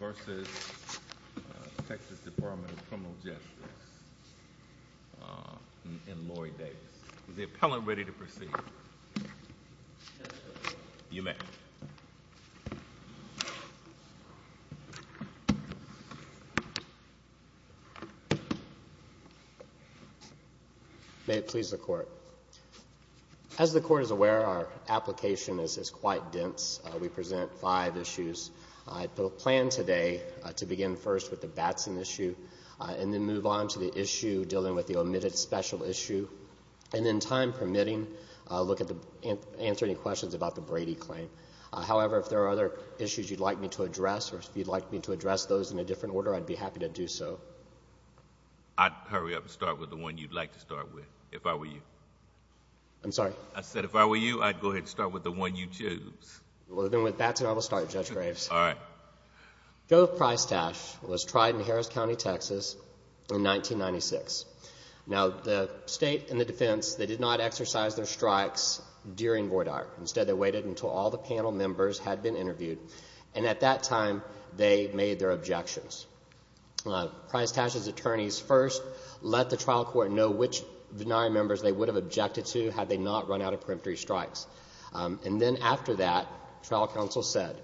vs. Texas Department of Criminal Justice, and Lorie Davis. Is the appellant ready to proceed? Yes, Your Honor. You may. May it please the Court. As the Court is aware, our plan today to begin first with the Batson issue, and then move on to the issue dealing with the omitted special issue, and then, time permitting, look at the... answer any questions about the Brady claim. However, if there are other issues you'd like me to address or if you'd like me to address those in a different order, I'd be happy to do so. I'd hurry up and start with the one you'd like to start with, if I were you. I'm sorry? I said if I were you, I'd go ahead and start with the one you choose. Well, then, with Gov. Prystash was tried in Harris County, Texas, in 1996. Now, the State and the defense, they did not exercise their strikes during Void Art. Instead, they waited until all the panel members had been interviewed, and at that time, they made their objections. Prystash's attorneys first let the trial court know which Vennari members they would have objected to had they not run out of peremptory strikes. And then, after that, trial counsel said,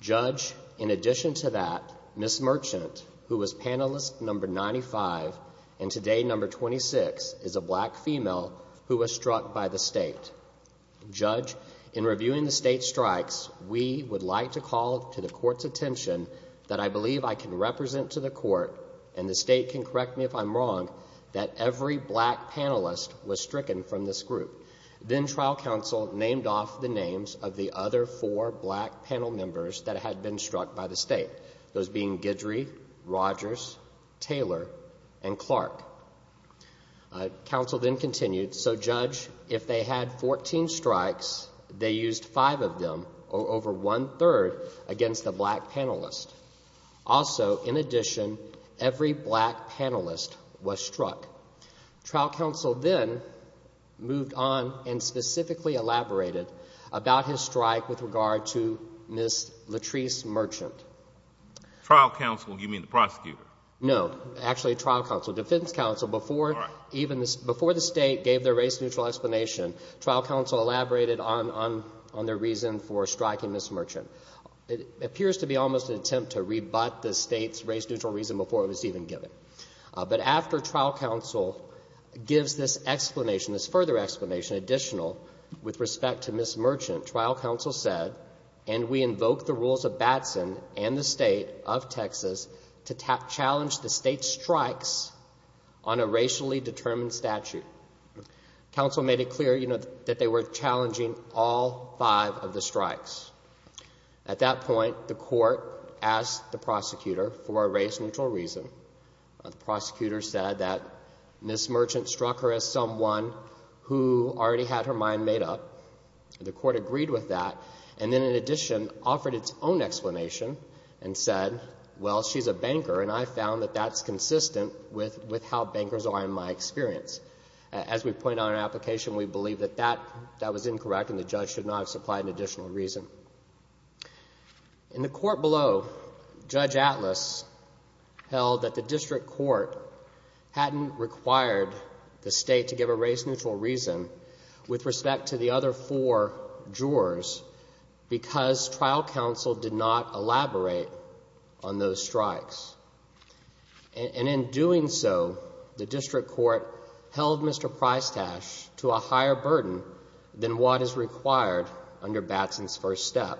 Judge, in addition to that, Ms. Merchant, who was panelist number 95, and today number 26, is a black female who was struck by the State. Judge, in reviewing the State's strikes, we would like to call to the Court's attention that I believe I can represent to the Court, and the State can correct me if I'm wrong, that every black panelist was stricken from this group. Then, trial counsel named off the names of the other four black panel members that had been struck by the State, those being Guidry, Rogers, Taylor, and Clark. Counsel then continued, so, Judge, if they had 14 strikes, they used five of them, or over one third, against the black panelist. Also, in addition, every black panelist was struck. Trial counsel then moved on and specifically elaborated about his strike with regard to Ms. Latrice Merchant. Trial counsel, you mean the prosecutor? No, actually, trial counsel, defense counsel, before the State gave their race-neutral explanation, trial counsel elaborated on their reason for striking Ms. Merchant. It appears to be almost an attempt to rebut the trial counsel gives this explanation, this further explanation, additional, with respect to Ms. Merchant. Trial counsel said, and we invoke the rules of Batson and the State of Texas to challenge the State's strikes on a racially determined statute. Counsel made it clear, you know, that they were challenging all five of the strikes. At that point, the Court asked the prosecutor for a race-neutral reason. The prosecutor said that Ms. Merchant struck her as someone who already had her mind made up. The Court agreed with that, and then, in addition, offered its own explanation and said, well, she's a banker, and I found that that's consistent with how bankers are in my experience. As we point out in our application, we believe that that Judge Atlas held that the district court hadn't required the State to give a race-neutral reason with respect to the other four jurors because trial counsel did not elaborate on those strikes. And in doing so, the district court held Mr. Prystash to a higher burden than what is required under Batson's first step.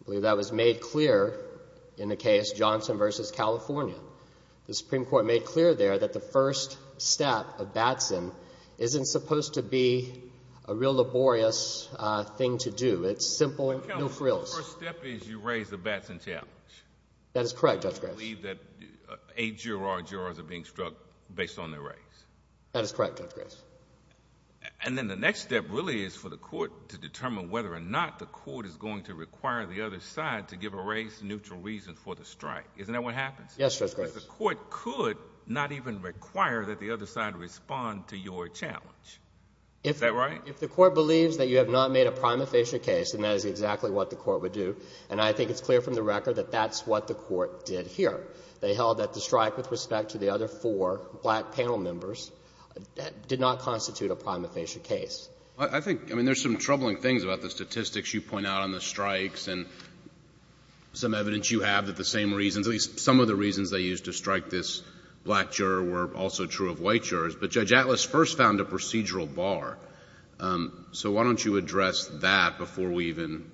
I believe that was made clear in the case Johnson v. California. The Supreme Court made clear there that the first step of Batson isn't supposed to be a real laborious thing to do. It's simple and no frills. The first step is you raise the Batson challenge. That is correct, Judge Grace. You believe that eight juror are being struck based on their race. That is correct, Judge Grace. And then the next step really is for the Court to determine whether or not the Court is going to require the other side to give a race-neutral reason for the strike. Isn't that what happens? Yes, Judge Grace. Because the Court could not even require that the other side respond to your challenge. Is that right? If the Court believes that you have not made a prima facie case, and that is exactly what the Court would do, and I think it's clear from the record that that's what the Court did here. They held that the strike with respect to the other four black panel members did not constitute a prima facie case. I think, I mean, there's some troubling things about the statistics you point out on the strikes and some evidence you have that the same reasons, at least some of the reasons they used to strike this black juror were also true of white jurors. But Judge Atlas first found a procedural bar. So why don't you address that before we even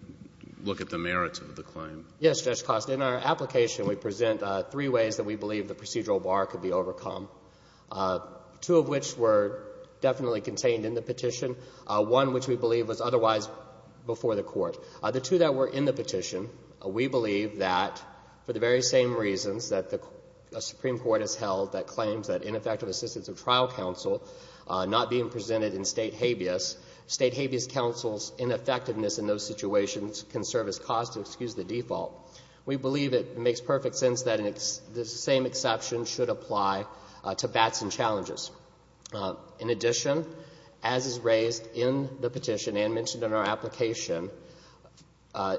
look at the merits of the claim? Yes, Judge Costa. In our application, we present three ways that we believe the procedural bar could be overcome, two of which were definitely contained in the petition, one which we believe was otherwise before the Court. The two that were in the petition, we believe that for the very same reasons that the Supreme Court has held that claims that ineffective assistance of trial counsel not being presented in State habeas, State habeas counsel's ineffectiveness in those the same exception should apply to Batson challenges. In addition, as is raised in the petition and mentioned in our application,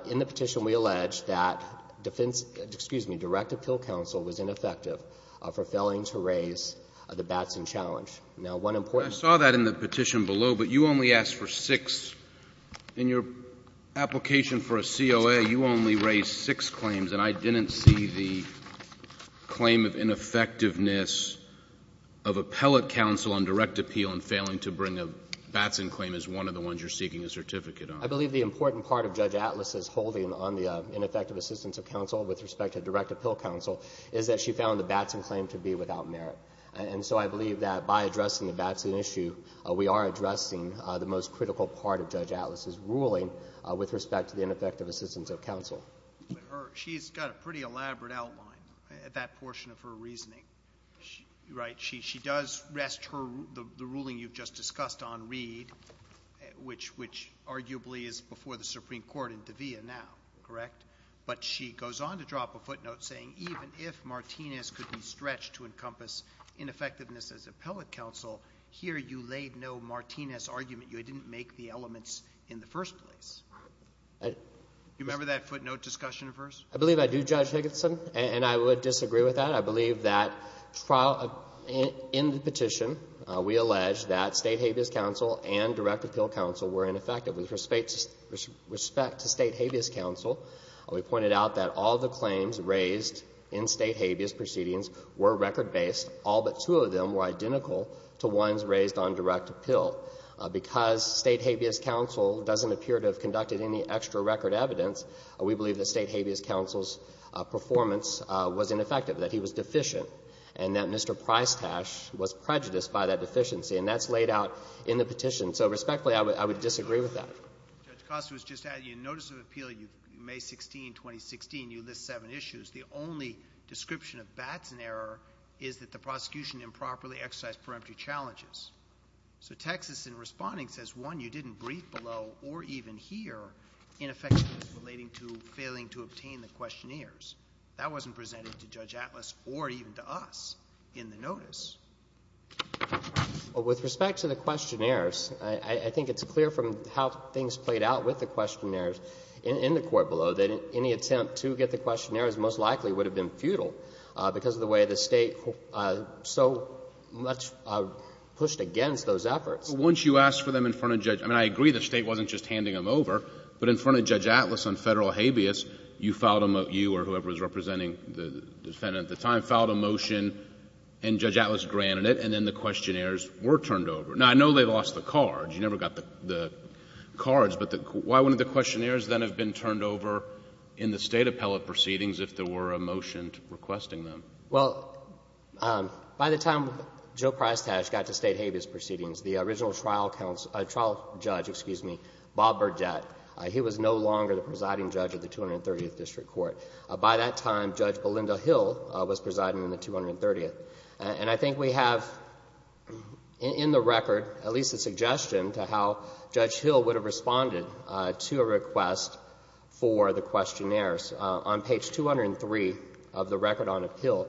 in the petition we allege that defense — excuse me, direct appeal counsel was ineffective for failing to raise the Batson challenge. Now, one important — I saw that in the petition below, but you only asked for six. In your application for a COA, you only raised six claims, and I didn't see the claim of ineffectiveness of appellate counsel on direct appeal in failing to bring a Batson claim as one of the ones you're seeking a certificate on. I believe the important part of Judge Atlas's holding on the ineffective assistance of counsel with respect to direct appeal counsel is that she found the Batson claim to be without merit. And so I believe that by addressing the Batson issue, we are addressing the most critical part of Judge Atlas's ruling with respect to the ineffective assistance of counsel. But her — she's got a pretty elaborate outline, that portion of her reasoning. Right? She does rest her — the ruling you've just discussed on Reed, which arguably is before the Supreme Court in De'Vea now, correct? But she goes on to drop a footnote saying even if Martinez could be stretched to encompass ineffectiveness as appellate counsel, here you laid no Martinez argument. You didn't make the elements in the first place. Do you remember that footnote discussion at first? I believe I do, Judge Higginson, and I would disagree with that. I believe that in the petition, we allege that state habeas counsel and direct appeal counsel were ineffective with respect to state habeas counsel. We pointed out that all the claims raised in state habeas proceedings were record-based. All but two of them were identical to ones raised on direct appeal. Because state habeas counsel doesn't appear to have conducted any extra record evidence, we believe that state habeas counsel's performance was ineffective, that he was deficient, and that Mr. Pricetash was prejudiced by that deficiency. And that's laid out in the petition. So, respectfully, I would disagree with that. Judge Costa was just adding, in notice of appeal, May 16, 2016, you list seven issues. The only description of Batson error is that the prosecution improperly exercised peremptory challenges. So Texas, in responding, says, one, you didn't brief below or even here ineffectiveness relating to failing to obtain the questionnaires. That wasn't presented to Judge Atlas or even to us in the notice. Well, with respect to the questionnaires, I think it's clear from how things played out with the questionnaires in the court below that any attempt to get the questionnaires most likely would have been futile because of the way the State so much pushed against those efforts. But once you asked for them in front of Judge — I mean, I agree the State wasn't just handing them over, but in front of Judge Atlas on Federal habeas, you filed a — you or whoever was representing the defendant at the time filed a motion, and Judge Atlas granted it, and then the questionnaires were turned over. Now, I know they lost the cards, but why wouldn't the questionnaires then have been turned over in the State appellate proceedings if there were a motion requesting them? Well, by the time Joe Prystash got to State habeas proceedings, the original trial counsel — trial judge, excuse me, Bob Burgett, he was no longer the presiding judge of the 230th District Court. By that time, Judge Belinda Hill was presiding in the 230th. And I think we have in the record at least a suggestion to how Judge Hill would have responded to a request for the questionnaires. On page 203 of the record on appeal,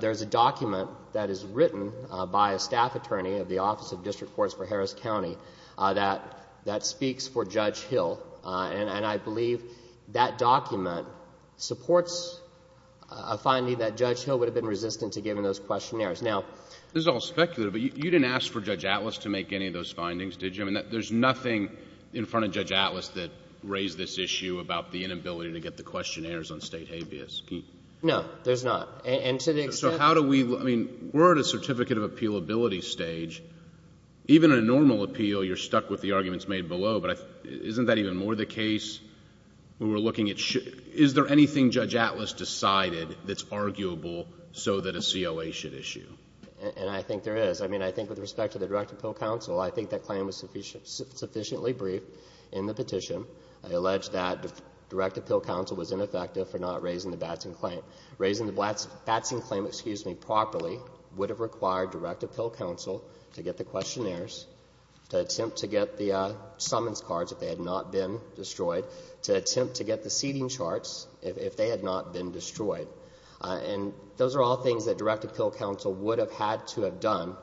there is a document that is written by a staff attorney of the Office of District Courts for Harris County that — that speaks for Judge Hill. And I believe that document supports a finding that Judge Hill would have been resistant to giving those questionnaires. Now — This is all speculative, but you didn't ask for Judge Atlas to make any of those in front of Judge Atlas that raised this issue about the inability to get the questionnaires on State habeas. Can you — No, there's not. And to the extent — So how do we — I mean, we're at a certificate of appealability stage. Even in a normal appeal, you're stuck with the arguments made below. But isn't that even more the case when we're looking at — is there anything Judge Atlas decided that's arguable so that a COA should issue? And I think there is. I mean, I think with respect to the Director of Appeal Council, I think that claim was sufficiently briefed in the petition. I allege that the Director of Appeal Council was ineffective for not raising the Batson claim — raising the Batson claim, excuse me, properly would have required Director of Appeal Council to get the questionnaires, to attempt to get the summons cards if they had not been destroyed, to attempt to get the seating charts if they had not been destroyed. And those are all things that Director of Appeal Council would have had to have done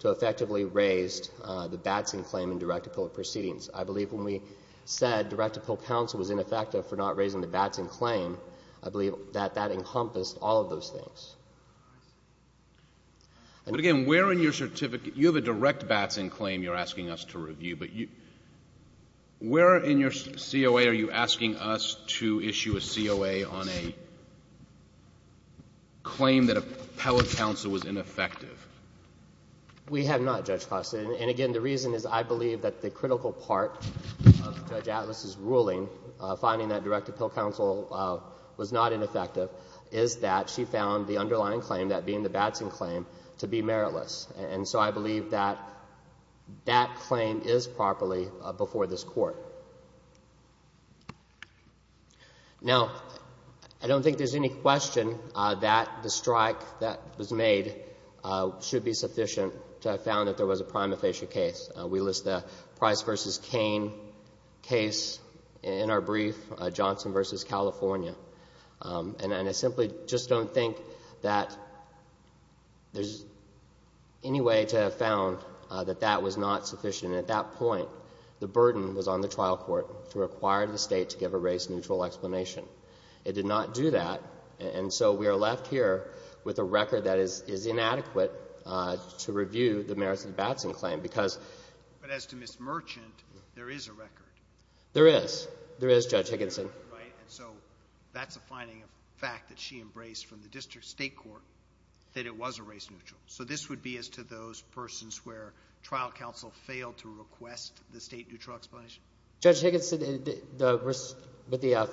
to effectively raise the Batson claim in Director of Appeal proceedings. I believe when we said Director of Appeal Council was ineffective for not raising the Batson claim, I believe that that encompassed all of those things. But again, where in your certificate — you have a direct Batson claim you're asking us to review, but where in your COA are you asking us to issue a COA on a claim that we have not, Judge Costa? And again, the reason is I believe that the critical part of Judge Atlas' ruling, finding that Director of Appeal Council was not ineffective, is that she found the underlying claim, that being the Batson claim, to be meritless. And so I believe that that claim is properly before this Court. Now, I don't think there's any question that the strike that was made should be sufficient to have found that there was a prima facie case. We list the Price v. Cain case in our brief, Johnson v. California. And I simply just don't think that there's any way to have found that that was not sufficient. At that point, the burden was on the trial court to require the State to give a race-neutral explanation. It did not do that. And so we are left here with a record that is inadequate to review the merits of the Batson claim. But as to Ms. Merchant, there is a record. There is. There is, Judge Higginson. Right. And so that's a finding of fact that she embraced from the district state court that it was a race-neutral. So this would be as to those persons where trial counsel failed to request the state-neutral explanation? Judge Higginson, the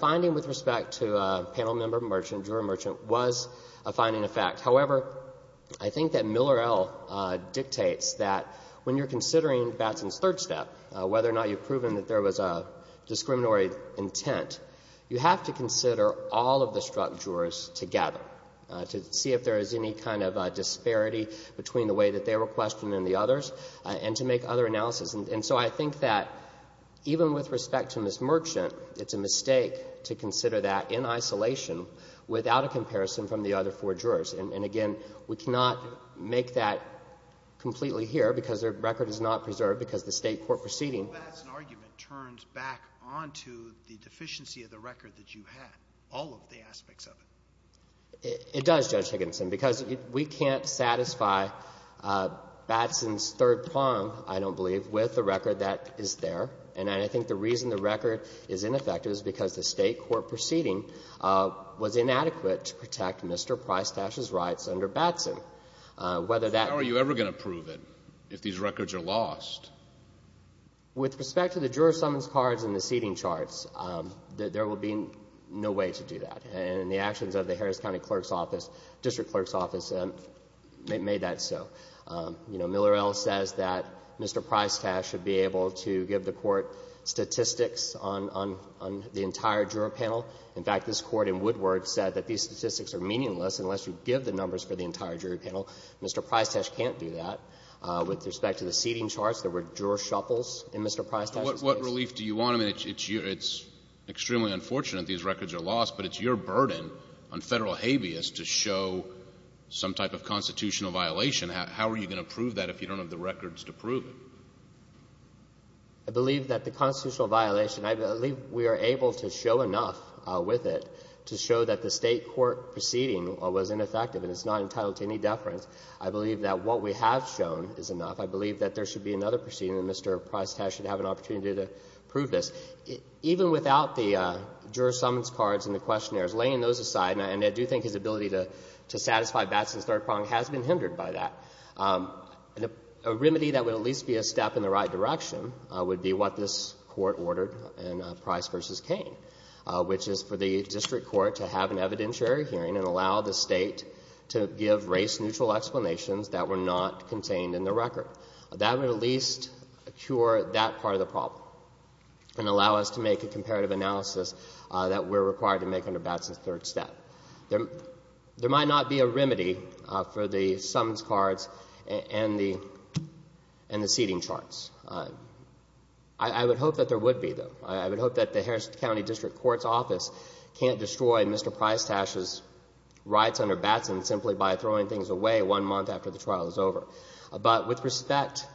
finding with respect to panel member Merchant, was a finding of fact. However, I think that Miller L. dictates that when you're considering Batson's third step, whether or not you've proven that there was a discriminatory intent, you have to consider all of the struck jurors together to see if there is any kind of disparity between the way that they were questioned and the others, and to make other analysis. And so I think that even with respect to Ms. Merchant, it's a mistake to consider that in isolation without a comparison from the other four jurors. And again, we cannot make that completely here because their record is not preserved because the state court proceeding So the Batson argument turns back onto the deficiency of the record that you had, all of the aspects of it? It does, Judge Higginson, because we can't satisfy Batson's third prong, I don't believe, with the record that is there. And I think the reason the record is ineffective is because the state court proceeding was inadequate to protect Mr. Prystash's rights under Batson. How are you ever going to prove it if these records are lost? With respect to the juror summons cards and the seating charts, there will be no way to do that. And the actions of the Harris County District Clerk's Office made that so. Miller L. says that Prystash should be able to give the Court statistics on the entire juror panel. In fact, this Court in Woodward said that these statistics are meaningless unless you give the numbers for the entire jury panel. Mr. Prystash can't do that. With respect to the seating charts, there were juror shuffles in Mr. Prystash's case. What relief do you want? I mean, it's extremely unfortunate these records are lost, but it's your burden on Federal habeas to show some type of constitutional violation. How are you going to prove that if you don't have the records to prove that? I believe that the constitutional violation, I believe we are able to show enough with it to show that the State court proceeding was ineffective and it's not entitled to any deference. I believe that what we have shown is enough. I believe that there should be another proceeding and Mr. Prystash should have an opportunity to prove this. Even without the juror summons cards and the questionnaires, laying those aside, and I do think his ability to satisfy Batson's third prong has been hindered by that, and a remedy that would at least be a step in the right direction would be what this court ordered in Price v. Kane, which is for the District Court to have an evidentiary hearing and allow the State to give race-neutral explanations that were not contained in the record. That would at least cure that part of the problem and allow us to make a comparative analysis that we're required to make under Batson's third step. There might not be a and the seating charts. I would hope that there would be, though. I would hope that the Harris County District Court's office can't destroy Mr. Prystash's rights under Batson simply by throwing things away one month after the trial is over. But with respect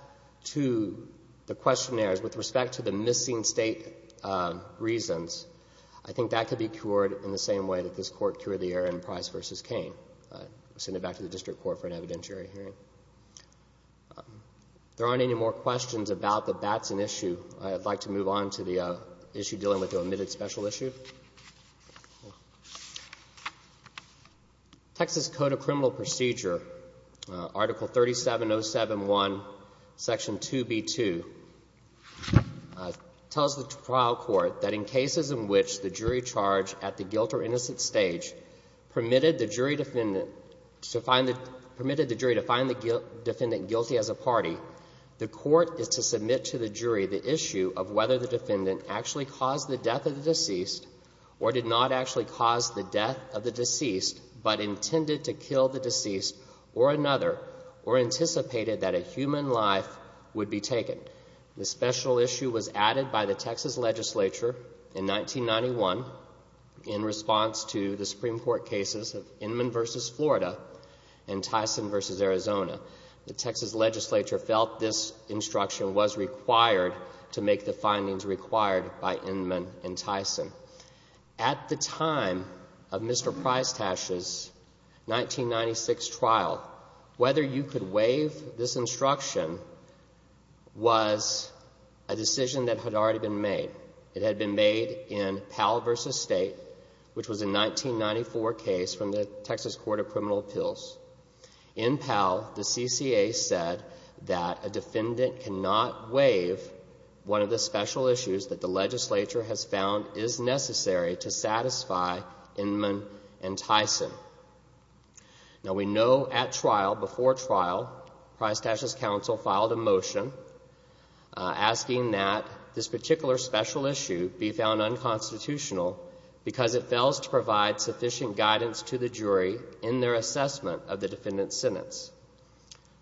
to the questionnaires, with respect to the missing State reasons, I think that could be cured in the same way that this court cured the error in Price v. Kane. I'll send it back to the District Court for an evidentiary hearing. If there aren't any more questions about the Batson issue, I'd like to move on to the issue dealing with the omitted special issue. Texas Code of Criminal Procedure, Article 37071, Section 2B2, tells the trial court that in cases in which the jury charged at the guilt or innocent stage permitted the jury defendant to find the defendant guilty as a party, the court is to submit to the jury the issue of whether the defendant actually caused the death of the deceased or did not actually cause the death of the deceased but intended to kill the deceased or another or anticipated that a human life would be taken. The special issue was added by the Texas Legislature in 1991 in response to the Supreme Court cases of Inman v. Florida and Tyson v. Arizona. The Texas Legislature felt this instruction was required to make the findings required by Inman and Tyson. At the time of Mr. Price's 1996 trial, whether you could waive this instruction was a decision that had already been made. It had been made in Powell v. State, which was a 1994 case from the Texas Court of Criminal Appeals. In Powell, the CCA said that a defendant cannot waive one of the special issues that the Legislature has found is necessary to satisfy motion asking that this particular special issue be found unconstitutional because it fails to provide sufficient guidance to the jury in their assessment of the defendant's sentence.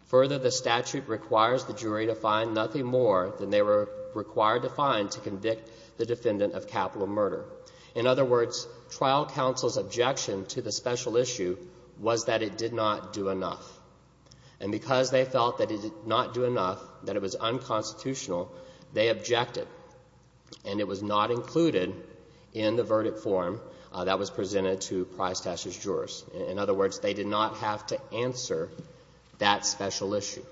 Further, the statute requires the jury to find nothing more than they were required to find to convict the defendant of capital murder. In other words, trial counsel's objection to the special issue was that it did not do enough. And because they felt that it did not do enough, that it was unconstitutional, they objected. And it was not included in the verdict form that was presented to Price v. Juras. In other words, they did not have to answer that special issue.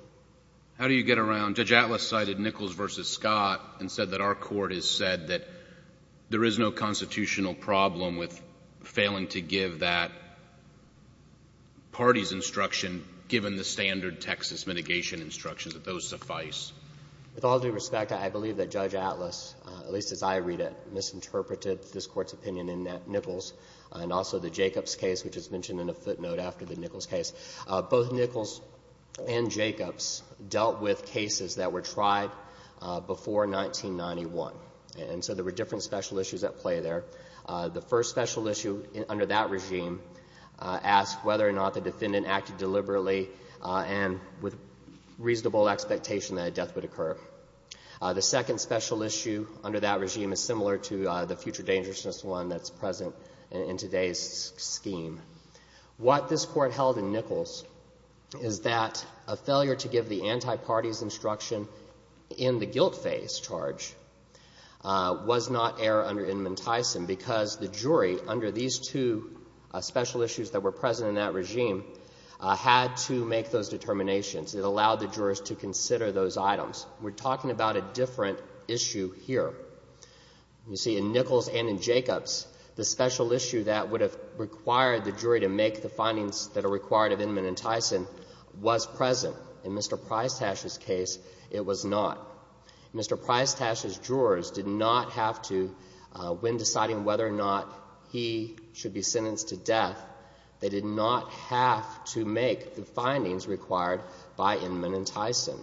How do you get around? Judge Atlas cited Nichols v. Scott and said that our Court has said that there is no constitutional problem with failing to give that party's instruction, given the standard Texas mitigation instructions, that those suffice. With all due respect, I believe that Judge Atlas, at least as I read it, misinterpreted this Court's opinion in Nichols and also the Jacobs case, which is mentioned in a footnote after the Nichols case. Both Nichols and Jacobs dealt with cases that were tried before 1991. And so there were different special issues at play there. The first special issue under that regime asked whether or not the defendant acted deliberately and with reasonable expectation that a death would occur. The second special issue under that regime is similar to the future dangerousness one that's present in today's scheme. What this Court held in Nichols is that a failure to give the anti-party's instruction in the guilt phase charge was not error under Inman Tyson because the jury, under these two special issues that were present in that regime, had to make those determinations. It allowed the jurors to consider those items. We're talking about a different issue here. You see, in Nichols and in Jacobs, the special issue that would have required the jury to make the findings that are required of Inman and Tyson was present. In Mr. Prystash's case, it was not. Mr. Prystash's jurors did not have to, when deciding whether or not he should be sentenced to death, they did not have to make the findings required by Inman and Tyson.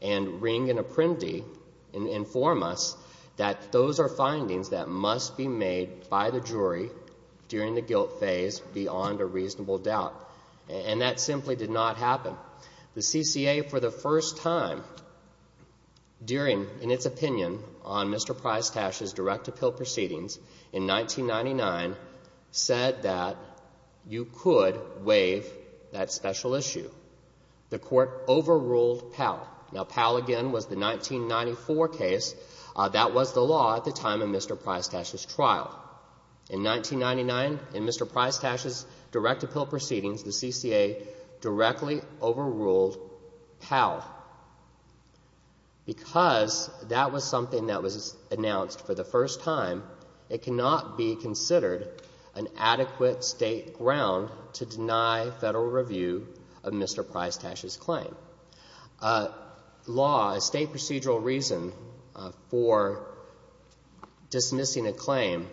And Ring and Apprendi inform us that those are findings that must be made by the jury during the guilt phase beyond a reasonable doubt. And that simply did not happen. The CCA, for the first time, during, in its opinion, on Mr. Prystash's direct appeal proceedings in 1999, said that you could waive that special issue. The court overruled Powell. Now, Powell, again, was the 1994 case. That was the law at the time of Mr. Prystash's trial. In 1999, in Mr. Prystash's direct appeal proceedings, the CCA directly overruled Powell. But because that was something that was announced for the first time, it cannot be considered an adequate state ground to deny federal review of Mr. Prystash's claim. A law, a state procedural reason for dismissing a claim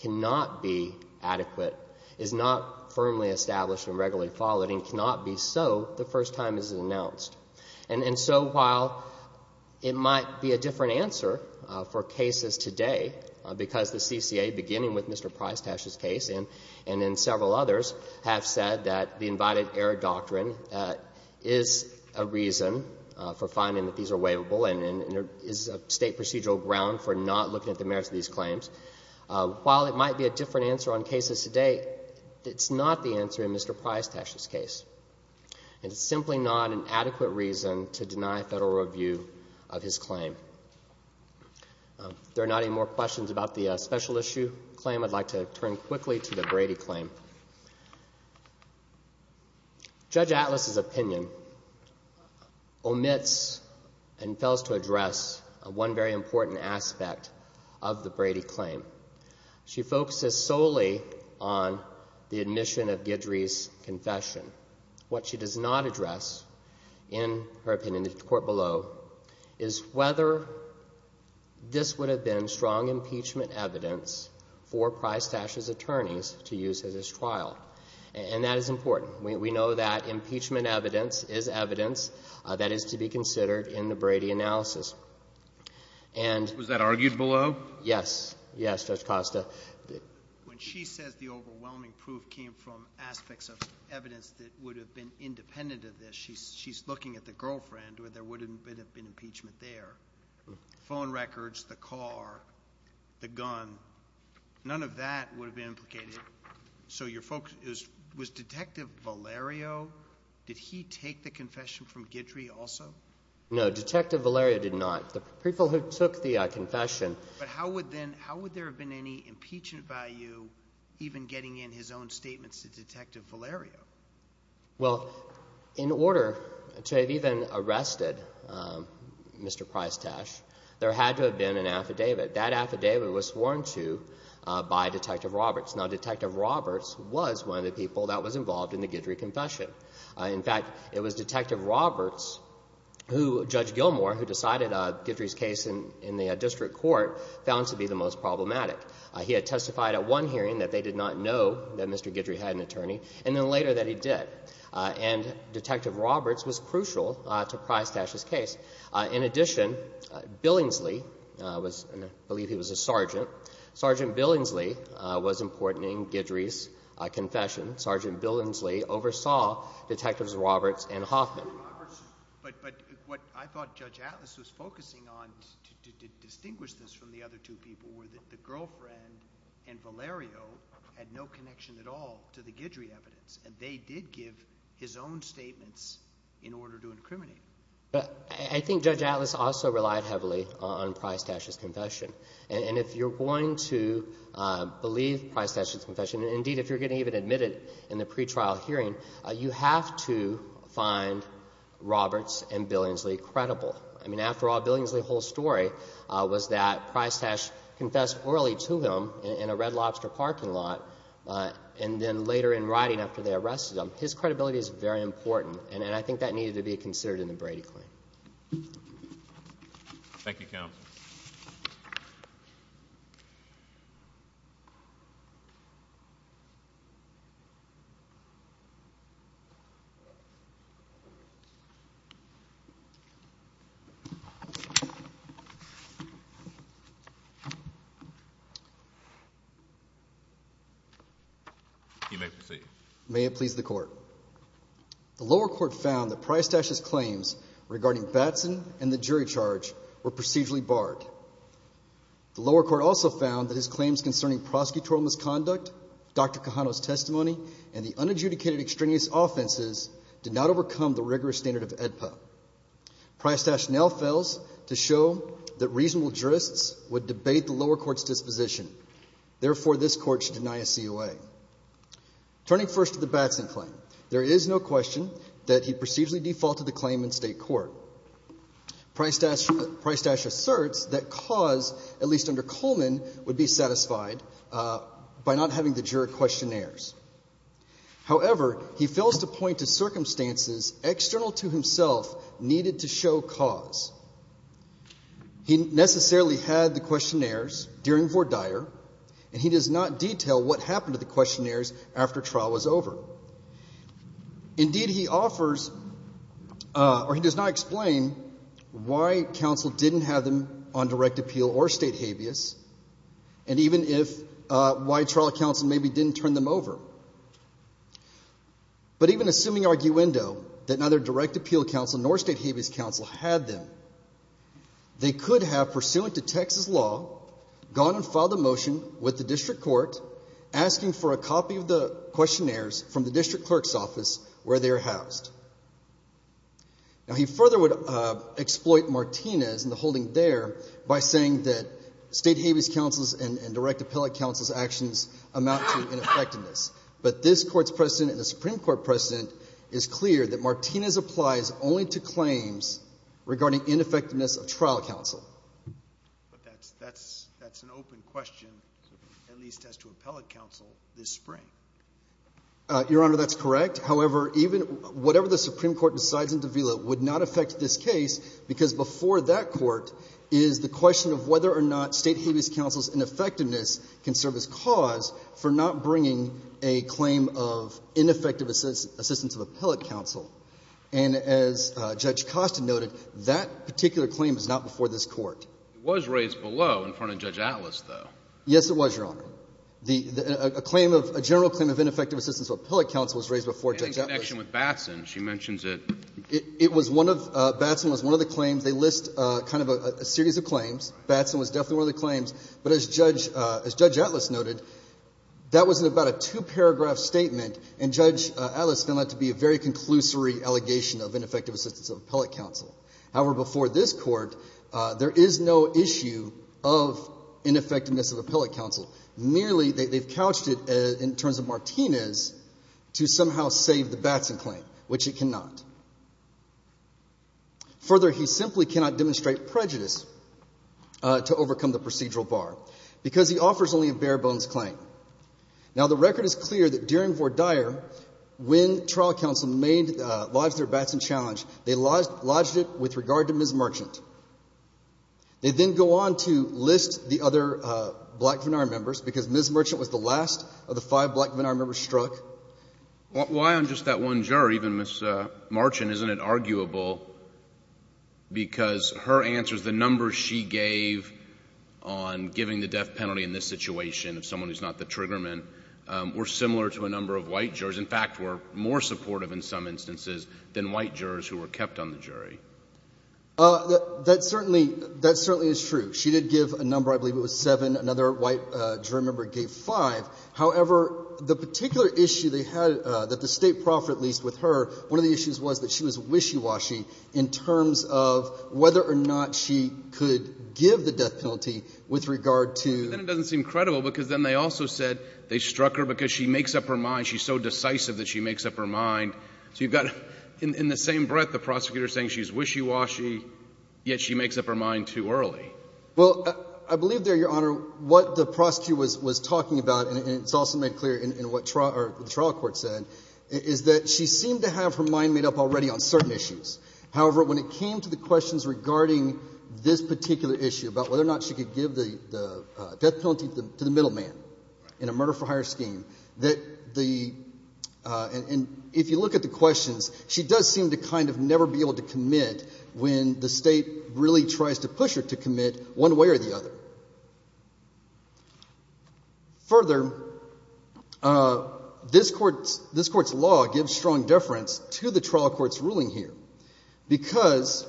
cannot be adequate, is not firmly established and regularly followed, and cannot be so the first time it is announced. And so while it might be a different answer for cases today, because the CCA, beginning with Mr. Prystash's case and in several others, have said that the invited error doctrine is a reason for finding that these are waivable and is a state procedural ground for not looking at the merits of these claims. While it might be a different answer on cases today, it's not the answer in Mr. Prystash's case. And it's simply not an adequate reason to deny federal review of his claim. There are not any more questions about the special issue claim. I'd like to turn quickly to the Brady claim. Judge Atlas's opinion omits and fails to address one very important aspect of the Brady claim. She focuses solely on the admission of Guidry's confession. What she does not address in her opinion of the court below is whether this would have been strong impeachment evidence for Prystash's attorneys to use as his trial. And that is important. We know that impeachment evidence is evidence that is to be considered in the Brady analysis. Was that argued below? Yes. Yes, Judge Costa. When she says the overwhelming proof came from aspects of evidence that would have been independent of this, she's looking at the girlfriend or there would have been impeachment there. Phone records, the car, the gun. None of that would have been implicated. So your focus is, was Detective Valerio, did he take the confession? How would there have been any impeachment value even getting in his own statements to Detective Valerio? Well, in order to have even arrested Mr. Prystash, there had to have been an affidavit. That affidavit was sworn to by Detective Roberts. Now, Detective Roberts was one of the people that was involved in the Guidry confession. In fact, it was Detective Roberts who Judge Gilmore, who decided Guidry's case in the district court, found to be the most problematic. He had testified at one hearing that they did not know that Mr. Guidry had an attorney and then later that he did. And Detective Roberts was crucial to Prystash's case. In addition, Billingsley, I believe he was a sergeant, Sergeant Billingsley was important in Guidry's confession. Sergeant Billingsley oversaw Detectives Roberts and Hoffman. But what I thought Judge Atlas was focusing on to distinguish this from the other two people were that the girlfriend and Valerio had no connection at all to the Guidry evidence and they did give his own statements in order to incriminate. But I think Judge Atlas also relied heavily on Prystash's confession. And if you're going to believe Prystash's confession, and indeed if you're going to even admit it in the pretrial hearing, you have to find Roberts and Billingsley credible. I mean, after all, Billingsley's whole story was that Prystash confessed early to him in a Red Lobster parking lot and then later in writing after they arrested him. His credibility is very important and I think that needed to be considered in the Brady claim. Thank you, Counsel. You may proceed. May it please the Court. The lower court found that Prystash's claims regarding Batson and the jury charge were procedurally barred. The lower court also found that his claims concerning prosecutorial misconduct, Dr. Cajano's testimony, and the unadjudicated extraneous offenses did not overcome the rigorous standard of AEDPA. Prystash now fails to show that reasonable jurists would debate the lower court's disposition. Therefore, this court should deny a COA. Turning first to the Batson claim, there is no question that he procedurally defaulted the claim in state court. Prystash asserts that cause, at least under Coleman, would be satisfied by not having the juror questionnaires. However, he fails to point to circumstances external to himself needed to show cause. He necessarily had the questionnaires during Vordeyer and he does not detail what happened to the questionnaires after trial was or he does not explain why counsel didn't have them on direct appeal or state habeas and even if why trial counsel maybe didn't turn them over. But even assuming arguendo that neither direct appeal counsel nor state habeas counsel had them, they could have, pursuant to Texas law, gone and filed a motion with the district court asking for a copy of the questionnaires from the district clerk's office where they are housed. Now, he further would exploit Martinez and the holding there by saying that state habeas counsel's and direct appellate counsel's actions amount to ineffectiveness. But this court's precedent and the Supreme Court precedent is clear that Martinez applies only to claims regarding ineffectiveness of trial counsel. But that's an open question, at least as to appellate counsel, this spring. Your Honor, that's correct. However, even whatever the would not affect this case because before that court is the question of whether or not state habeas counsel's ineffectiveness can serve as cause for not bringing a claim of ineffective assistance of appellate counsel. And as Judge Costa noted, that particular claim is not before this court. It was raised below in front of Judge Atlas, though. Yes, it was, Your Honor. A claim of, a general claim of ineffective assistance of appellate counsel was raised before Judge Atlas. In connection with Batson, she mentions it. It was one of, Batson was one of the claims. They list kind of a series of claims. Batson was definitely one of the claims. But as Judge Atlas noted, that was about a two-paragraph statement, and Judge Atlas found that to be a very conclusory allegation of ineffective assistance of appellate counsel. However, before this court, there is no issue of ineffectiveness of appellate counsel. Merely, they've couched it in terms of Martinez to somehow save the Batson claim, which it cannot. Further, he simply cannot demonstrate prejudice to overcome the procedural bar because he offers only a bare-bones claim. Now, the record is clear that during Vordire, when trial counsel lodged their Batson challenge, they lodged it with regard to Ms. Merchant. They then go on to blackvenire members because Ms. Merchant was the last of the five blackvenire members struck. Why on just that one jury, even Ms. Merchant, isn't it arguable because her answers, the numbers she gave on giving the death penalty in this situation of someone who's not the triggerman, were similar to a number of white jurors. In fact, were more supportive in some instances than white jurors who were kept on the jury. That certainly is true. She did give a number. I believe it was seven. Another white jury member gave five. However, the particular issue they had, that the State proffered at least with her, one of the issues was that she was wishy-washy in terms of whether or not she could give the death penalty with regard to... But then it doesn't seem credible because then they also said they struck her because she makes up her mind. She's so decisive that she makes up her mind. So you've got, in the same breath, the prosecutor saying she's wishy-washy, yet she makes up her mind too early. Well, I believe there, Your Honor, what the prosecutor was talking about, and it's also made clear in what the trial court said, is that she seemed to have her mind made up already on certain issues. However, when it came to the questions regarding this particular issue about whether or not she could give the death penalty to the middleman in a murder-for-hire scheme, that the... And if you look at the questions, she does seem to kind of never be able to commit when the State really tries to push her to commit one way or the other. Further, this Court's law gives strong deference to the trial court's ruling here because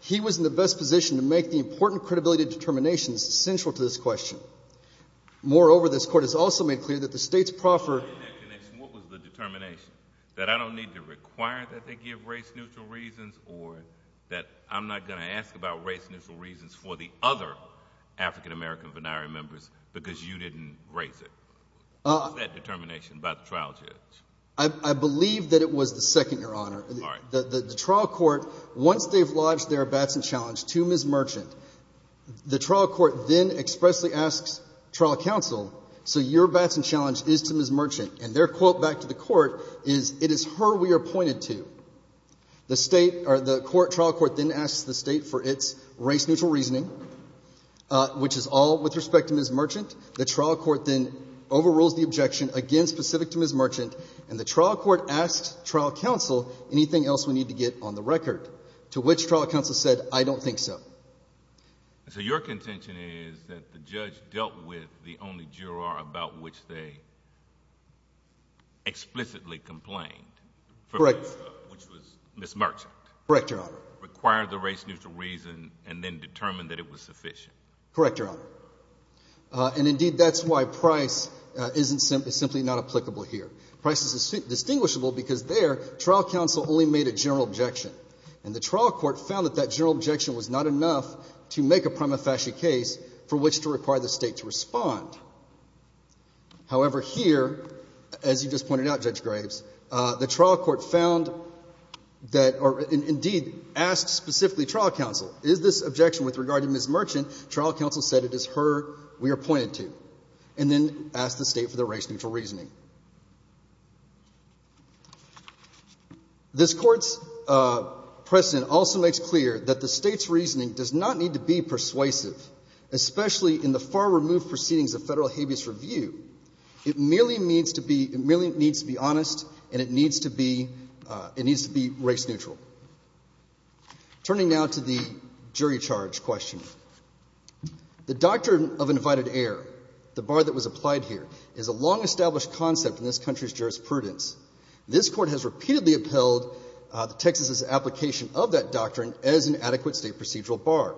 he was in the best position to make the important credibility determinations central to this question. Moreover, this Court has also made clear that the State's proffered... In that connection, what was the determination? That I don't need to require that they give race-neutral reasons or that I'm not going to ask about race-neutral reasons for the other African-American venire members because you didn't raise it? What was that determination by the trial judge? I believe that it was the second, Your Honor. All right. The trial court, once they've lodged their Batson challenge to Ms. Merchant, the trial court then expressly asks trial counsel, so your Batson challenge is to Ms. Merchant, and their quote back to the court is, it is her we are appointed to. The State... The trial court then asks the State for its race-neutral reasoning, which is all with respect to Ms. Merchant. The trial court then overrules the objection, again specific to Ms. Merchant, and the trial court asks trial counsel anything else we need to get on the record, to which trial counsel said, I don't think so. So your contention is that the judge dealt with the only juror about which they explicitly complained... Correct. Which was Ms. Merchant. Correct, Your Honor. Required the race-neutral reason and then determined that it was sufficient. Correct, Your Honor. And indeed, that's why price is simply not applicable here. Price is distinguishable because there, trial counsel only made a general objection, and the trial court found that that general objection was not enough to make a prima facie case for which to require the State to respond. However, here, as you just pointed out, Judge Graves, the trial court found that, or indeed asked specifically trial counsel, is this objection with regard to Ms. Merchant, trial counsel said it is her we are appointed to, and then asked the State for the race-neutral reasoning. This Court's precedent also makes clear that the State's reasoning does not need to be persuasive, especially in the far-removed proceedings of federal habeas review. It merely needs to be honest, and it needs to be race-neutral. Turning now to the jury charge question, the doctrine of invited heir, the bar that was established in this country's jurisprudence, this Court has repeatedly upheld Texas' application of that doctrine as an adequate State procedural bar.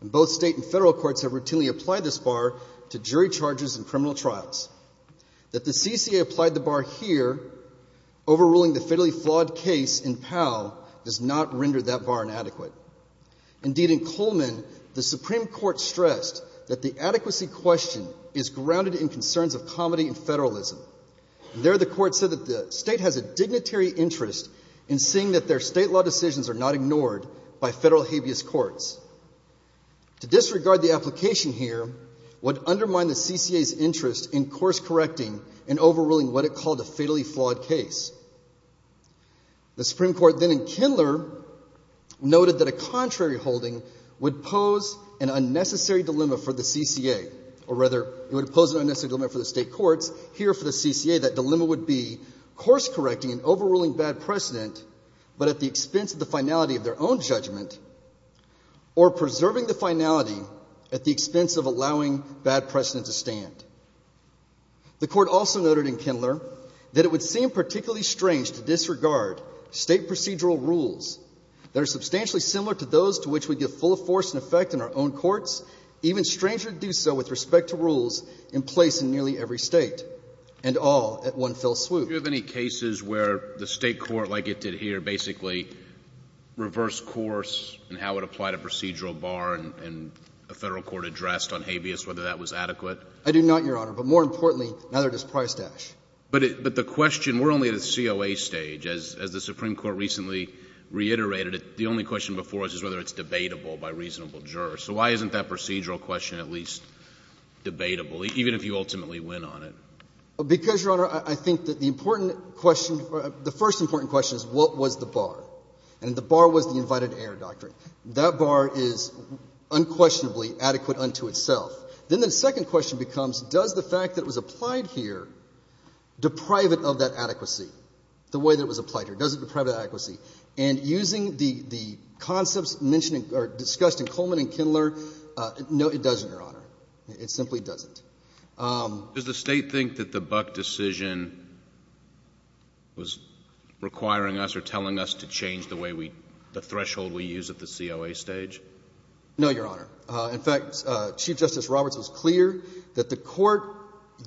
And both State and federal courts have routinely applied this bar to jury charges in criminal trials. That the CCA applied the bar here, overruling the fairly flawed case in Powell, does not render that bar inadequate. Indeed, in Coleman, the Supreme Court stressed that the adequacy question is grounded in concerns of comity and federalism. And there the Court said that the State has a dignitary interest in seeing that their State law decisions are not ignored by federal habeas courts. To disregard the application here would undermine the CCA's interest in course-correcting and overruling what it called a fatally flawed case. The Supreme Court then in Kindler noted that a contrary holding would pose an unnecessary dilemma for the CCA, or rather, it would pose an unnecessary dilemma for the State courts. Here, for the CCA, that dilemma would be course-correcting and overruling bad precedent, but at the expense of the finality of their own judgment, or preserving the finality at the expense of allowing bad precedent to stand. The Court also noted in Kindler that it would seem particularly strange to disregard State procedural rules that are substantially similar to those to which we give full force and effect in our own courts, even stranger to do so with respect to rules in place in nearly every State, and all at one fell swoop. Do you have any cases where the State court, like it did here, basically reversed course in how it applied a procedural bar and a Federal court addressed on habeas, whether that was adequate? I do not, Your Honor. But more importantly, neither does Price-Dash. But the question — we're only at a COA stage. As the Supreme Court recently reiterated, the only question before us is whether it's debatable by reasonable jurors. So why isn't that procedural question at least debatable, even if you ultimately win on it? Because, Your Honor, I think that the important question — the first important question is what was the bar? And the bar was the invited-to-error doctrine. That bar is unquestionably adequate unto itself. Then the second question becomes, does the fact that it was applied here deprive it of that adequacy, the way that it was applied here? Does it deprive it of adequacy? And using the concepts mentioned — or using the concepts mentioned in Kindler, no, it doesn't, Your Honor. It simply doesn't. Does the State think that the Buck decision was requiring us or telling us to change the way we — the threshold we use at the COA stage? No, Your Honor. In fact, Chief Justice Roberts was clear that the Court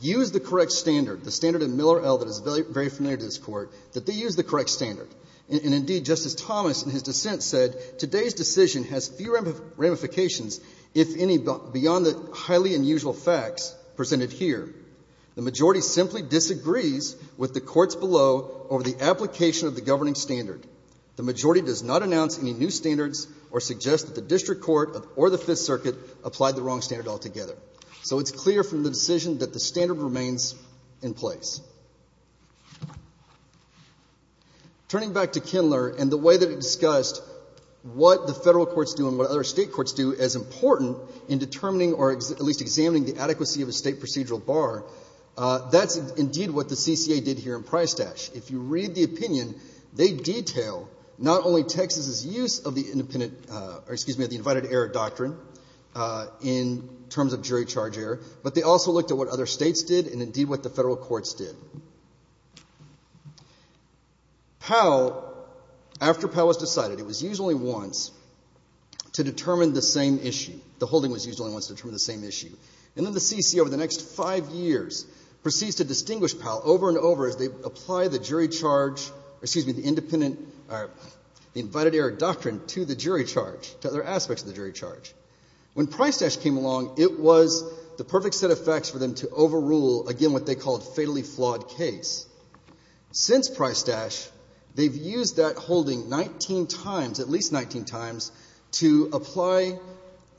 used the correct standard, the standard in Miller L that is very familiar to this Court, that they used the correct standard. And, indeed, Justice Thomas in his dissent said, today's decision has few ramifications, if any, beyond the highly unusual facts presented here. The majority simply disagrees with the courts below over the application of the governing standard. The majority does not announce any new standards or suggest that the District Court or the Fifth Circuit applied the wrong standard altogether. So it's clear from the decision that the standard remains in place. Turning back to Kindler and the way that it discussed what the Federal Courts do and what other State courts do as important in determining or at least examining the adequacy of a State procedural bar, that's, indeed, what the CCA did here in Prystash. If you read the opinion, they detail not only Texas' use of the independent — or, excuse me, of the invited error doctrine in terms of jury charge error, but they also looked at what other States did and, indeed, what the Federal Courts did. Powell — after Powell was decided, it was used only once to determine the same issue. The holding was used only once to determine the same issue. And then the CCA, over the next five years, proceeds to distinguish Powell over and over as they apply the jury charge — or, excuse me, the independent — or the invited error doctrine to the jury charge, to other aspects of the jury charge. When Prystash came along, it was the perfect set of facts for them to overrule, again, what they called a fatally flawed case. Since Prystash, they've used that holding 19 times — at least 19 times — to apply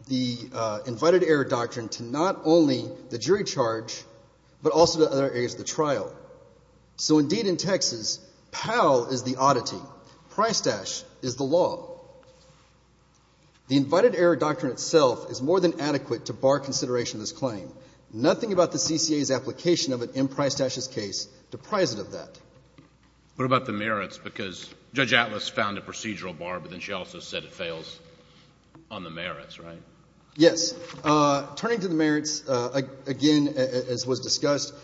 the invited error doctrine to not only the jury charge, but also to other areas of the trial. So, indeed, in Texas, Powell is the oddity. Prystash is the law. The invited error doctrine itself is more than adequate to bar consideration of this claim. Nothing about the CCA's application of an M. Prystash's case deprives it of that. What about the merits? Because Judge Atlas found a procedural bar, but then she also said it fails on the merits, right? Yes. Turning to the merits, again, as was discussed,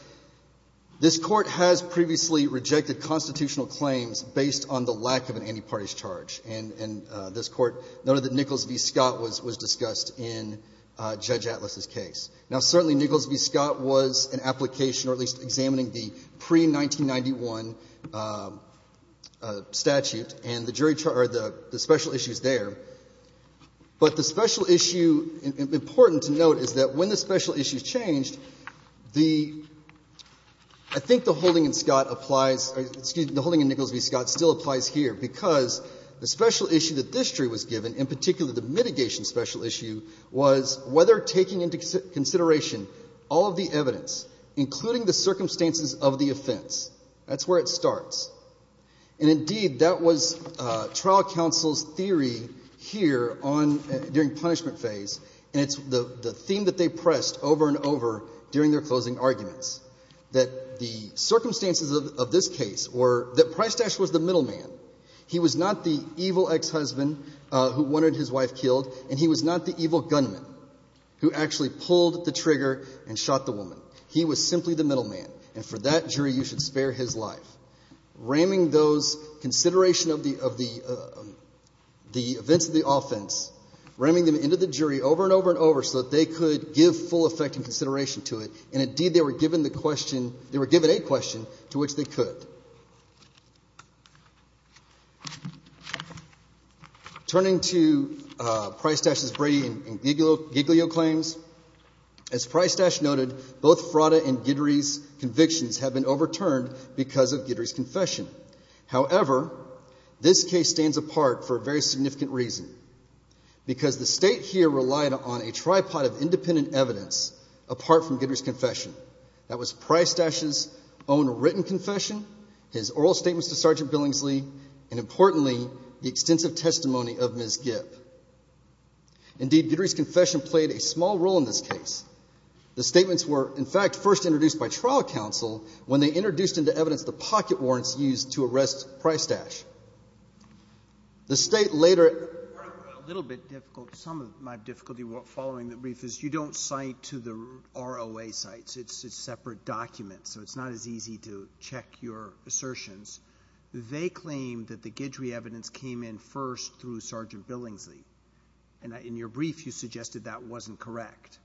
this Court has previously rejected constitutional claims based on the lack of an anti-parties charge, and this Court noted that Nichols v. Scott was discussed in Judge Atlas's case. Now, certainly Nichols v. Scott was an application, or at least examining the pre-1991 statute, and the jury — or the special issues there. But the special issue — important to note is that when the special issue changed, the — I think the holding in Scott applies — excuse me, the holding in Nichols v. Scott still applies here, because the special issue that this jury was given, in particular the mitigation special issue, was whether taking into consideration all of the evidence, including the circumstances of the offense. That's where it starts. And, indeed, that was trial counsel's theory here on — during punishment phase, and it's the theme that they pressed over and over during their closing arguments, that the circumstances of this case were that Prystash was the middleman. He was not the evil ex-husband who wanted his wife killed, and he was not the evil gunman who actually pulled the trigger and shot the woman. He was simply the middleman, and for that, jury, you should spare his life. Ramming those consideration of the events of the offense, ramming them into the jury over and over and over so that they could give full effect and consideration to it, and, indeed, they were given the question — they were given a question to which they could. Turning to Prystash's Brady and Giglio claims, as Prystash noted, both Frauda and Gidry's have been overturned because of Gidry's confession. However, this case stands apart for a very significant reason, because the state here relied on a tripod of independent evidence apart from Gidry's confession. That was Prystash's own written confession, his oral statements to Sergeant Billingsley, and, importantly, the extensive testimony of Ms. Gipp. Indeed, Gidry's confession played a small role in this case. The statements were, in fact, first introduced by trial counsel when they introduced into evidence the pocket warrants used to arrest Prystash. The State later — A little bit difficult. Some of my difficulty following the brief is you don't cite to the ROA sites. It's a separate document, so it's not as easy to check your assertions. They claim that the Gidry evidence came in first through Sergeant Billingsley. And in your brief, you suggested that wasn't correct.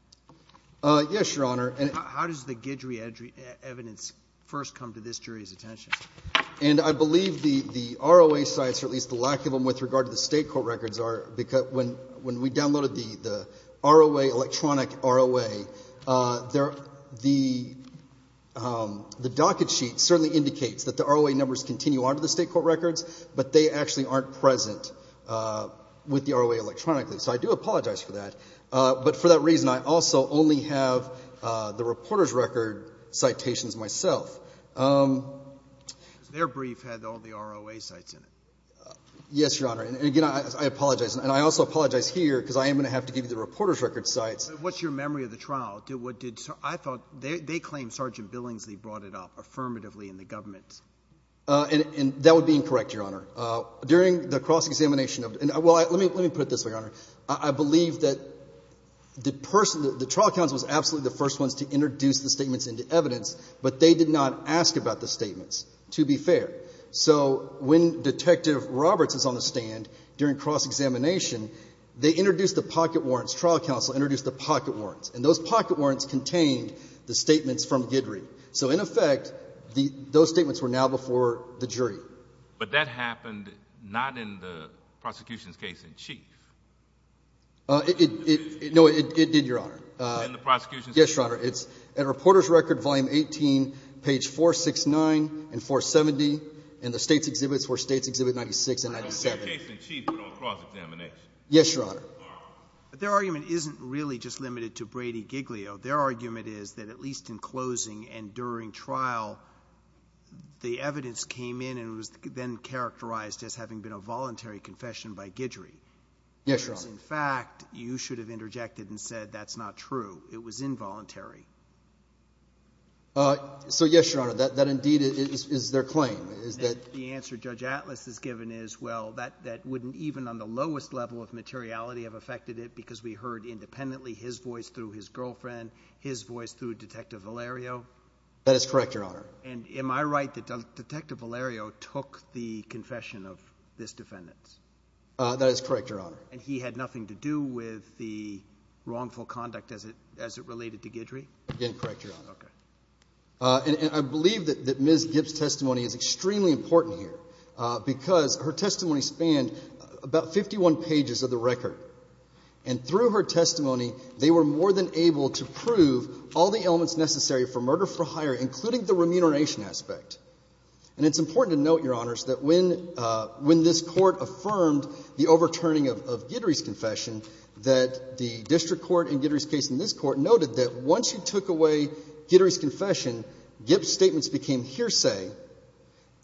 Yes, Your Honor. How does the Gidry evidence first come to this jury's attention? And I believe the ROA sites, or at least the lack of them with regard to the state court records, are — when we downloaded the electronic ROA, the docket sheet certainly indicates that the ROA numbers continue on to the state court records, but they actually aren't present with the ROA electronically. So I do apologize for that. But for that reason, I also only have the reporter's record citations myself. Because their brief had all the ROA sites in it. Yes, Your Honor. And again, I apologize. And I also apologize here because I am going to have to give you the reporter's record sites. What's your memory of the trial? What did — I thought they claimed Sergeant Billingsley brought it up affirmatively in the government. And that would be incorrect, Your Honor. During the cross-examination of — well, let me put it this way, Your Honor. I believe that the trial counsel was absolutely the first ones to introduce the statements into evidence, but they did not ask about the statements, to be fair. So when Detective Roberts is on the stand during cross-examination, they introduced the pocket warrants. Trial counsel introduced the pocket warrants. And those pocket warrants contained the statements from Gidry. So in effect, those statements were now before the jury. But that happened not in the prosecution's case in chief. No, it did, Your Honor. In the prosecution's case in chief. Yes, Your Honor. It's in reporter's record, volume 18, page 469 and 470, and the state's exhibits were states exhibit 96 and 97. In the case in chief, but on cross-examination. Yes, Your Honor. Their argument isn't really just limited to Brady Giglio. Their argument is that at least in closing and during trial, the evidence came in and was then characterized as having been a voluntary confession by Gidry. Yes, Your Honor. Because in fact, you should have interjected and said that's not true. It was involuntary. So yes, Your Honor, that indeed is their claim, is that — The answer Judge Atlas has given is, well, that wouldn't even on the lowest level of materiality have affected it because we heard independently his voice through his girlfriend, his voice through Detective Valerio. That is correct, Your Honor. And am I right that Detective Valerio took the confession of this defendant? That is correct, Your Honor. And he had nothing to do with the wrongful conduct as it related to Gidry? Again, correct, Your Honor. Okay. And I believe that Ms. Gibbs' testimony is extremely important here because her testimony spanned about 51 pages of the record. And through her testimony, they were more than able to prove all the elements necessary for murder for hire, including the remuneration aspect. And it's important to note, Your Honors, that when this Court affirmed the overturning of Gidry's confession, that the district court in Gidry's case and this Court noted that once you took away Gidry's confession, Gibbs' statements became hearsay,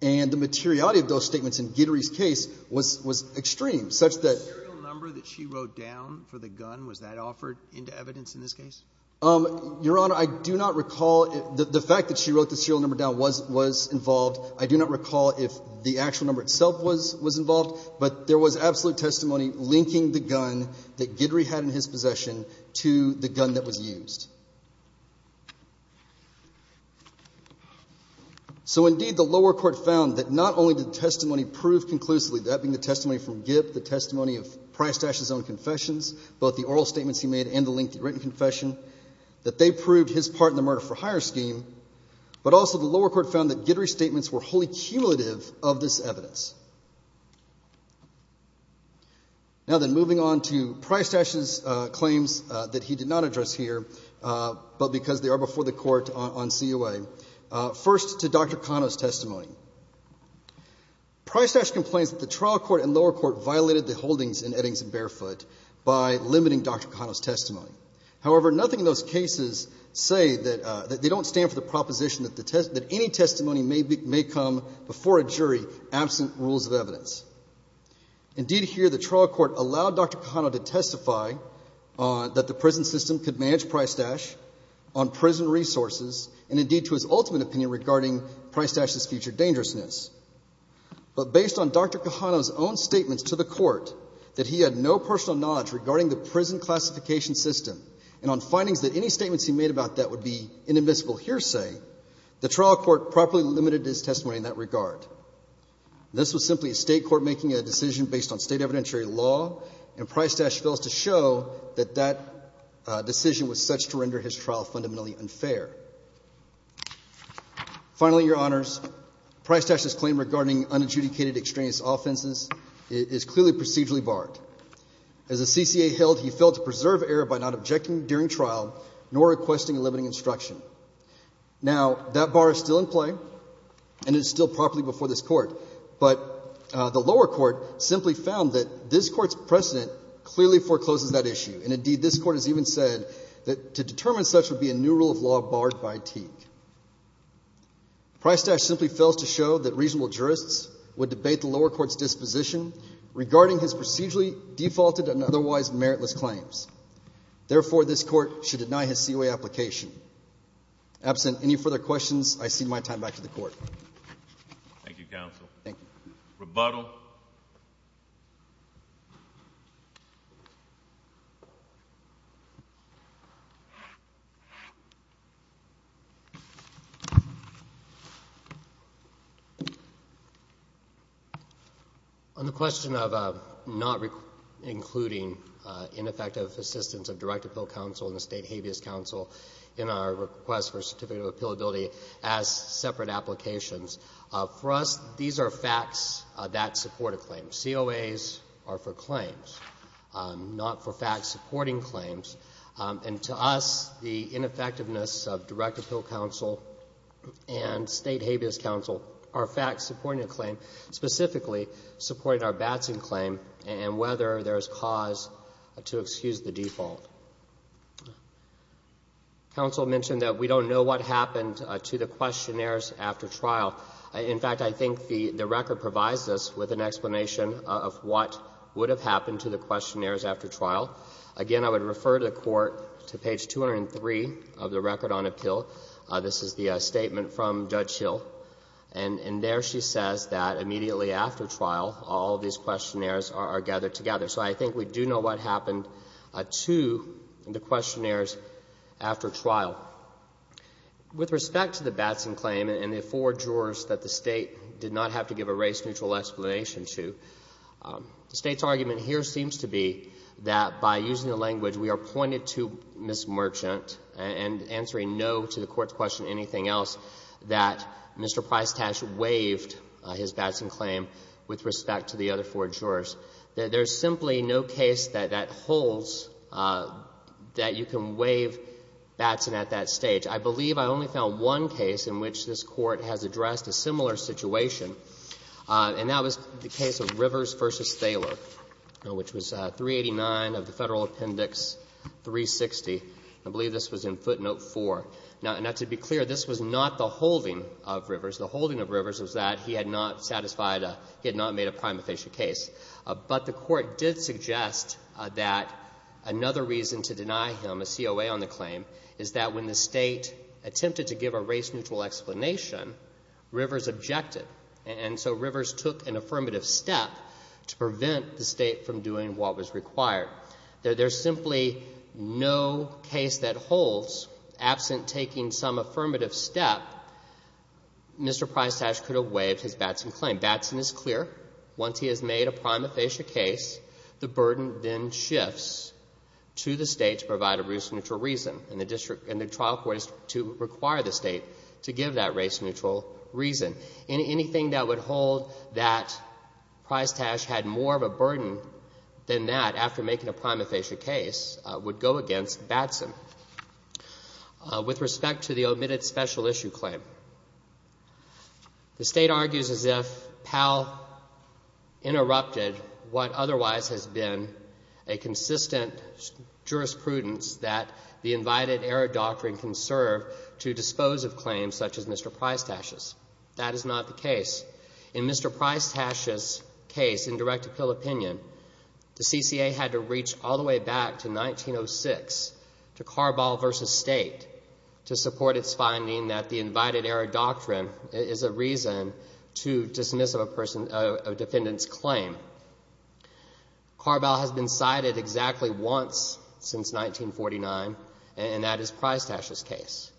and the materiality of those statements in Gidry's case was extreme, such that— The fact that she wrote down for the gun, was that offered into evidence in this case? Your Honor, I do not recall — the fact that she wrote the serial number down was involved. I do not recall if the actual number itself was involved, but there was absolute testimony linking the gun that Gidry had in his possession to the gun that was used. So, indeed, the lower court found that not only did the testimony prove conclusively that being the testimony from Gibbs, the testimony of Prystash's own confessions, both the oral statements he made and the lengthy written confession, that they proved his part in the murder for hire scheme, but also the lower court found that Gidry's statements were wholly cumulative of this evidence. Now then, moving on to Prystash's claims that he did not address here, but because they are before the Court on COA, first to Dr. Cano's testimony. Prystash complains that the trial court and lower court violated the holdings in Eddings and Barefoot by limiting Dr. Cano's testimony. However, nothing in those cases say that — they don't stand for the proposition that any testimony may come before a jury absent rules of evidence. Indeed, here, the trial court allowed Dr. Cano to testify that the prison system could manage Prystash on prison resources, and indeed, to his ultimate opinion regarding Prystash's future dangerousness. But based on Dr. Cano's own statements to the court that he had no personal knowledge regarding the prison classification system, and on findings that any statements he made about that would be inadmissible hearsay, the trial court properly limited his testimony in that regard. This was simply a state court making a decision based on state evidentiary law, and Prystash fails to show that that decision was such to render his trial fundamentally unfair. Finally, Your Honors, Prystash's claim regarding unadjudicated extraneous offenses is clearly procedurally barred. As a CCA held, he failed to preserve error by not objecting during trial, nor requesting a limiting instruction. Now, that bar is still in play, and it is still properly before this court, but the lower court simply found that this court's precedent clearly forecloses that issue, and indeed, this court has even said that to determine such would be a new rule of law barred by Teague. Prystash simply fails to show that reasonable jurists would debate the lower court's disposition regarding his procedurally defaulted and otherwise meritless claims. Therefore, this court should deny his COA application. Absent any further questions, I cede my time back to the court. Thank you, counsel. Thank you. Rebuttal. On the question of not including ineffective assistance of direct appeal counsel and the state habeas counsel in our request for a certificate of appealability as separate applications, for us, these are facts that support a claim. COAs are for claims, not for facts supporting claims, and to us, the ineffectiveness of state habeas counsel are facts supporting a claim, specifically supporting our Batson claim and whether there is cause to excuse the default. Counsel mentioned that we don't know what happened to the questionnaires after trial. In fact, I think the record provides us with an explanation of what would have happened to the questionnaires after trial. Again, I would refer the Court to page 203 of the record on appeal. This is the statement from Judge Hill, and there she says that immediately after trial, all of these questionnaires are gathered together. So I think we do know what happened to the questionnaires after trial. With respect to the Batson claim and the four jurors that the State did not have to give a race-neutral explanation to, the State's argument here seems to be that by using the anything else that Mr. Prystash waived his Batson claim with respect to the other four jurors, that there is simply no case that that holds that you can waive Batson at that stage. I believe I only found one case in which this Court has addressed a similar situation, and that was the case of Rivers v. Thaler, which was 389 of the Federal Appendix 360. I believe this was in footnote 4. Now, to be clear, this was not the holding of Rivers. The holding of Rivers was that he had not satisfied, he had not made a prima facie case. But the Court did suggest that another reason to deny him a COA on the claim is that when the State attempted to give a race-neutral explanation, Rivers objected. And so Rivers took an affirmative step to prevent the State from doing what was required. There's simply no case that holds, absent taking some affirmative step, Mr. Prystash could have waived his Batson claim. Batson is clear. Once he has made a prima facie case, the burden then shifts to the State to provide a race-neutral reason, and the trial court is to require the State to give that race-neutral reason. Anything that would hold that Prystash had more of a burden than that after making a prima facie case would go against Batson. With respect to the omitted special issue claim, the State argues as if Powell interrupted what otherwise has been a consistent jurisprudence that the invited error doctrine can serve to dispose of claims such as Mr. Prystash's. That is not the case. In Mr. Prystash's case, in direct appeal opinion, the CCA had to reach all the way back to 1906 to Carball v. State to support its finding that the invited error doctrine is a reason to dismiss a person, a defendant's claim. Carball has been cited exactly once since 1949, and that is Prystash's case.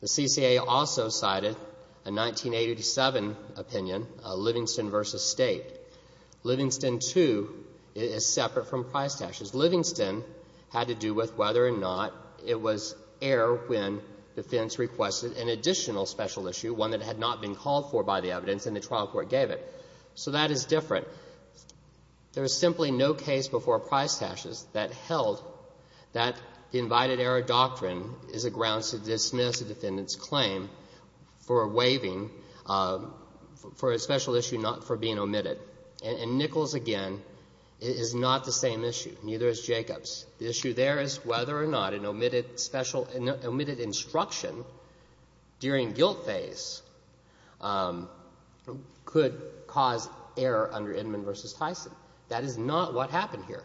The CCA also cited a 1987 opinion, Livingston v. State. Livingston, too, is separate from Prystash's. Livingston had to do with whether or not it was air when defense requested an additional special issue, one that had not been called for by the evidence, and the trial court gave it. So that is different. There is simply no case before Prystash's that held that the invited error doctrine is a grounds to dismiss a defendant's claim for waiving for a special issue not for being omitted. And Nichols, again, is not the same issue. Neither is Jacobs. The issue there is whether or not an omitted instruction during guilt phase could cause error under Inman v. Tyson. That is not what happened here.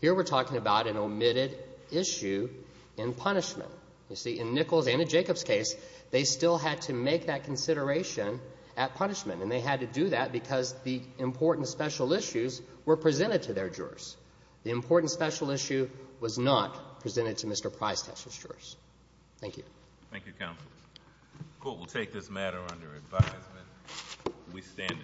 Here we are talking about an omitted issue in punishment. You see, in Nichols and in Jacobs' case, they still had to make that consideration at punishment, and they had to do that because the important special issues were presented to their jurors. The important special issue was not presented to Mr. Prystash's jurors. Thank you. Thank you, counsel. The court will take this matter under advisement. We stand adjourned.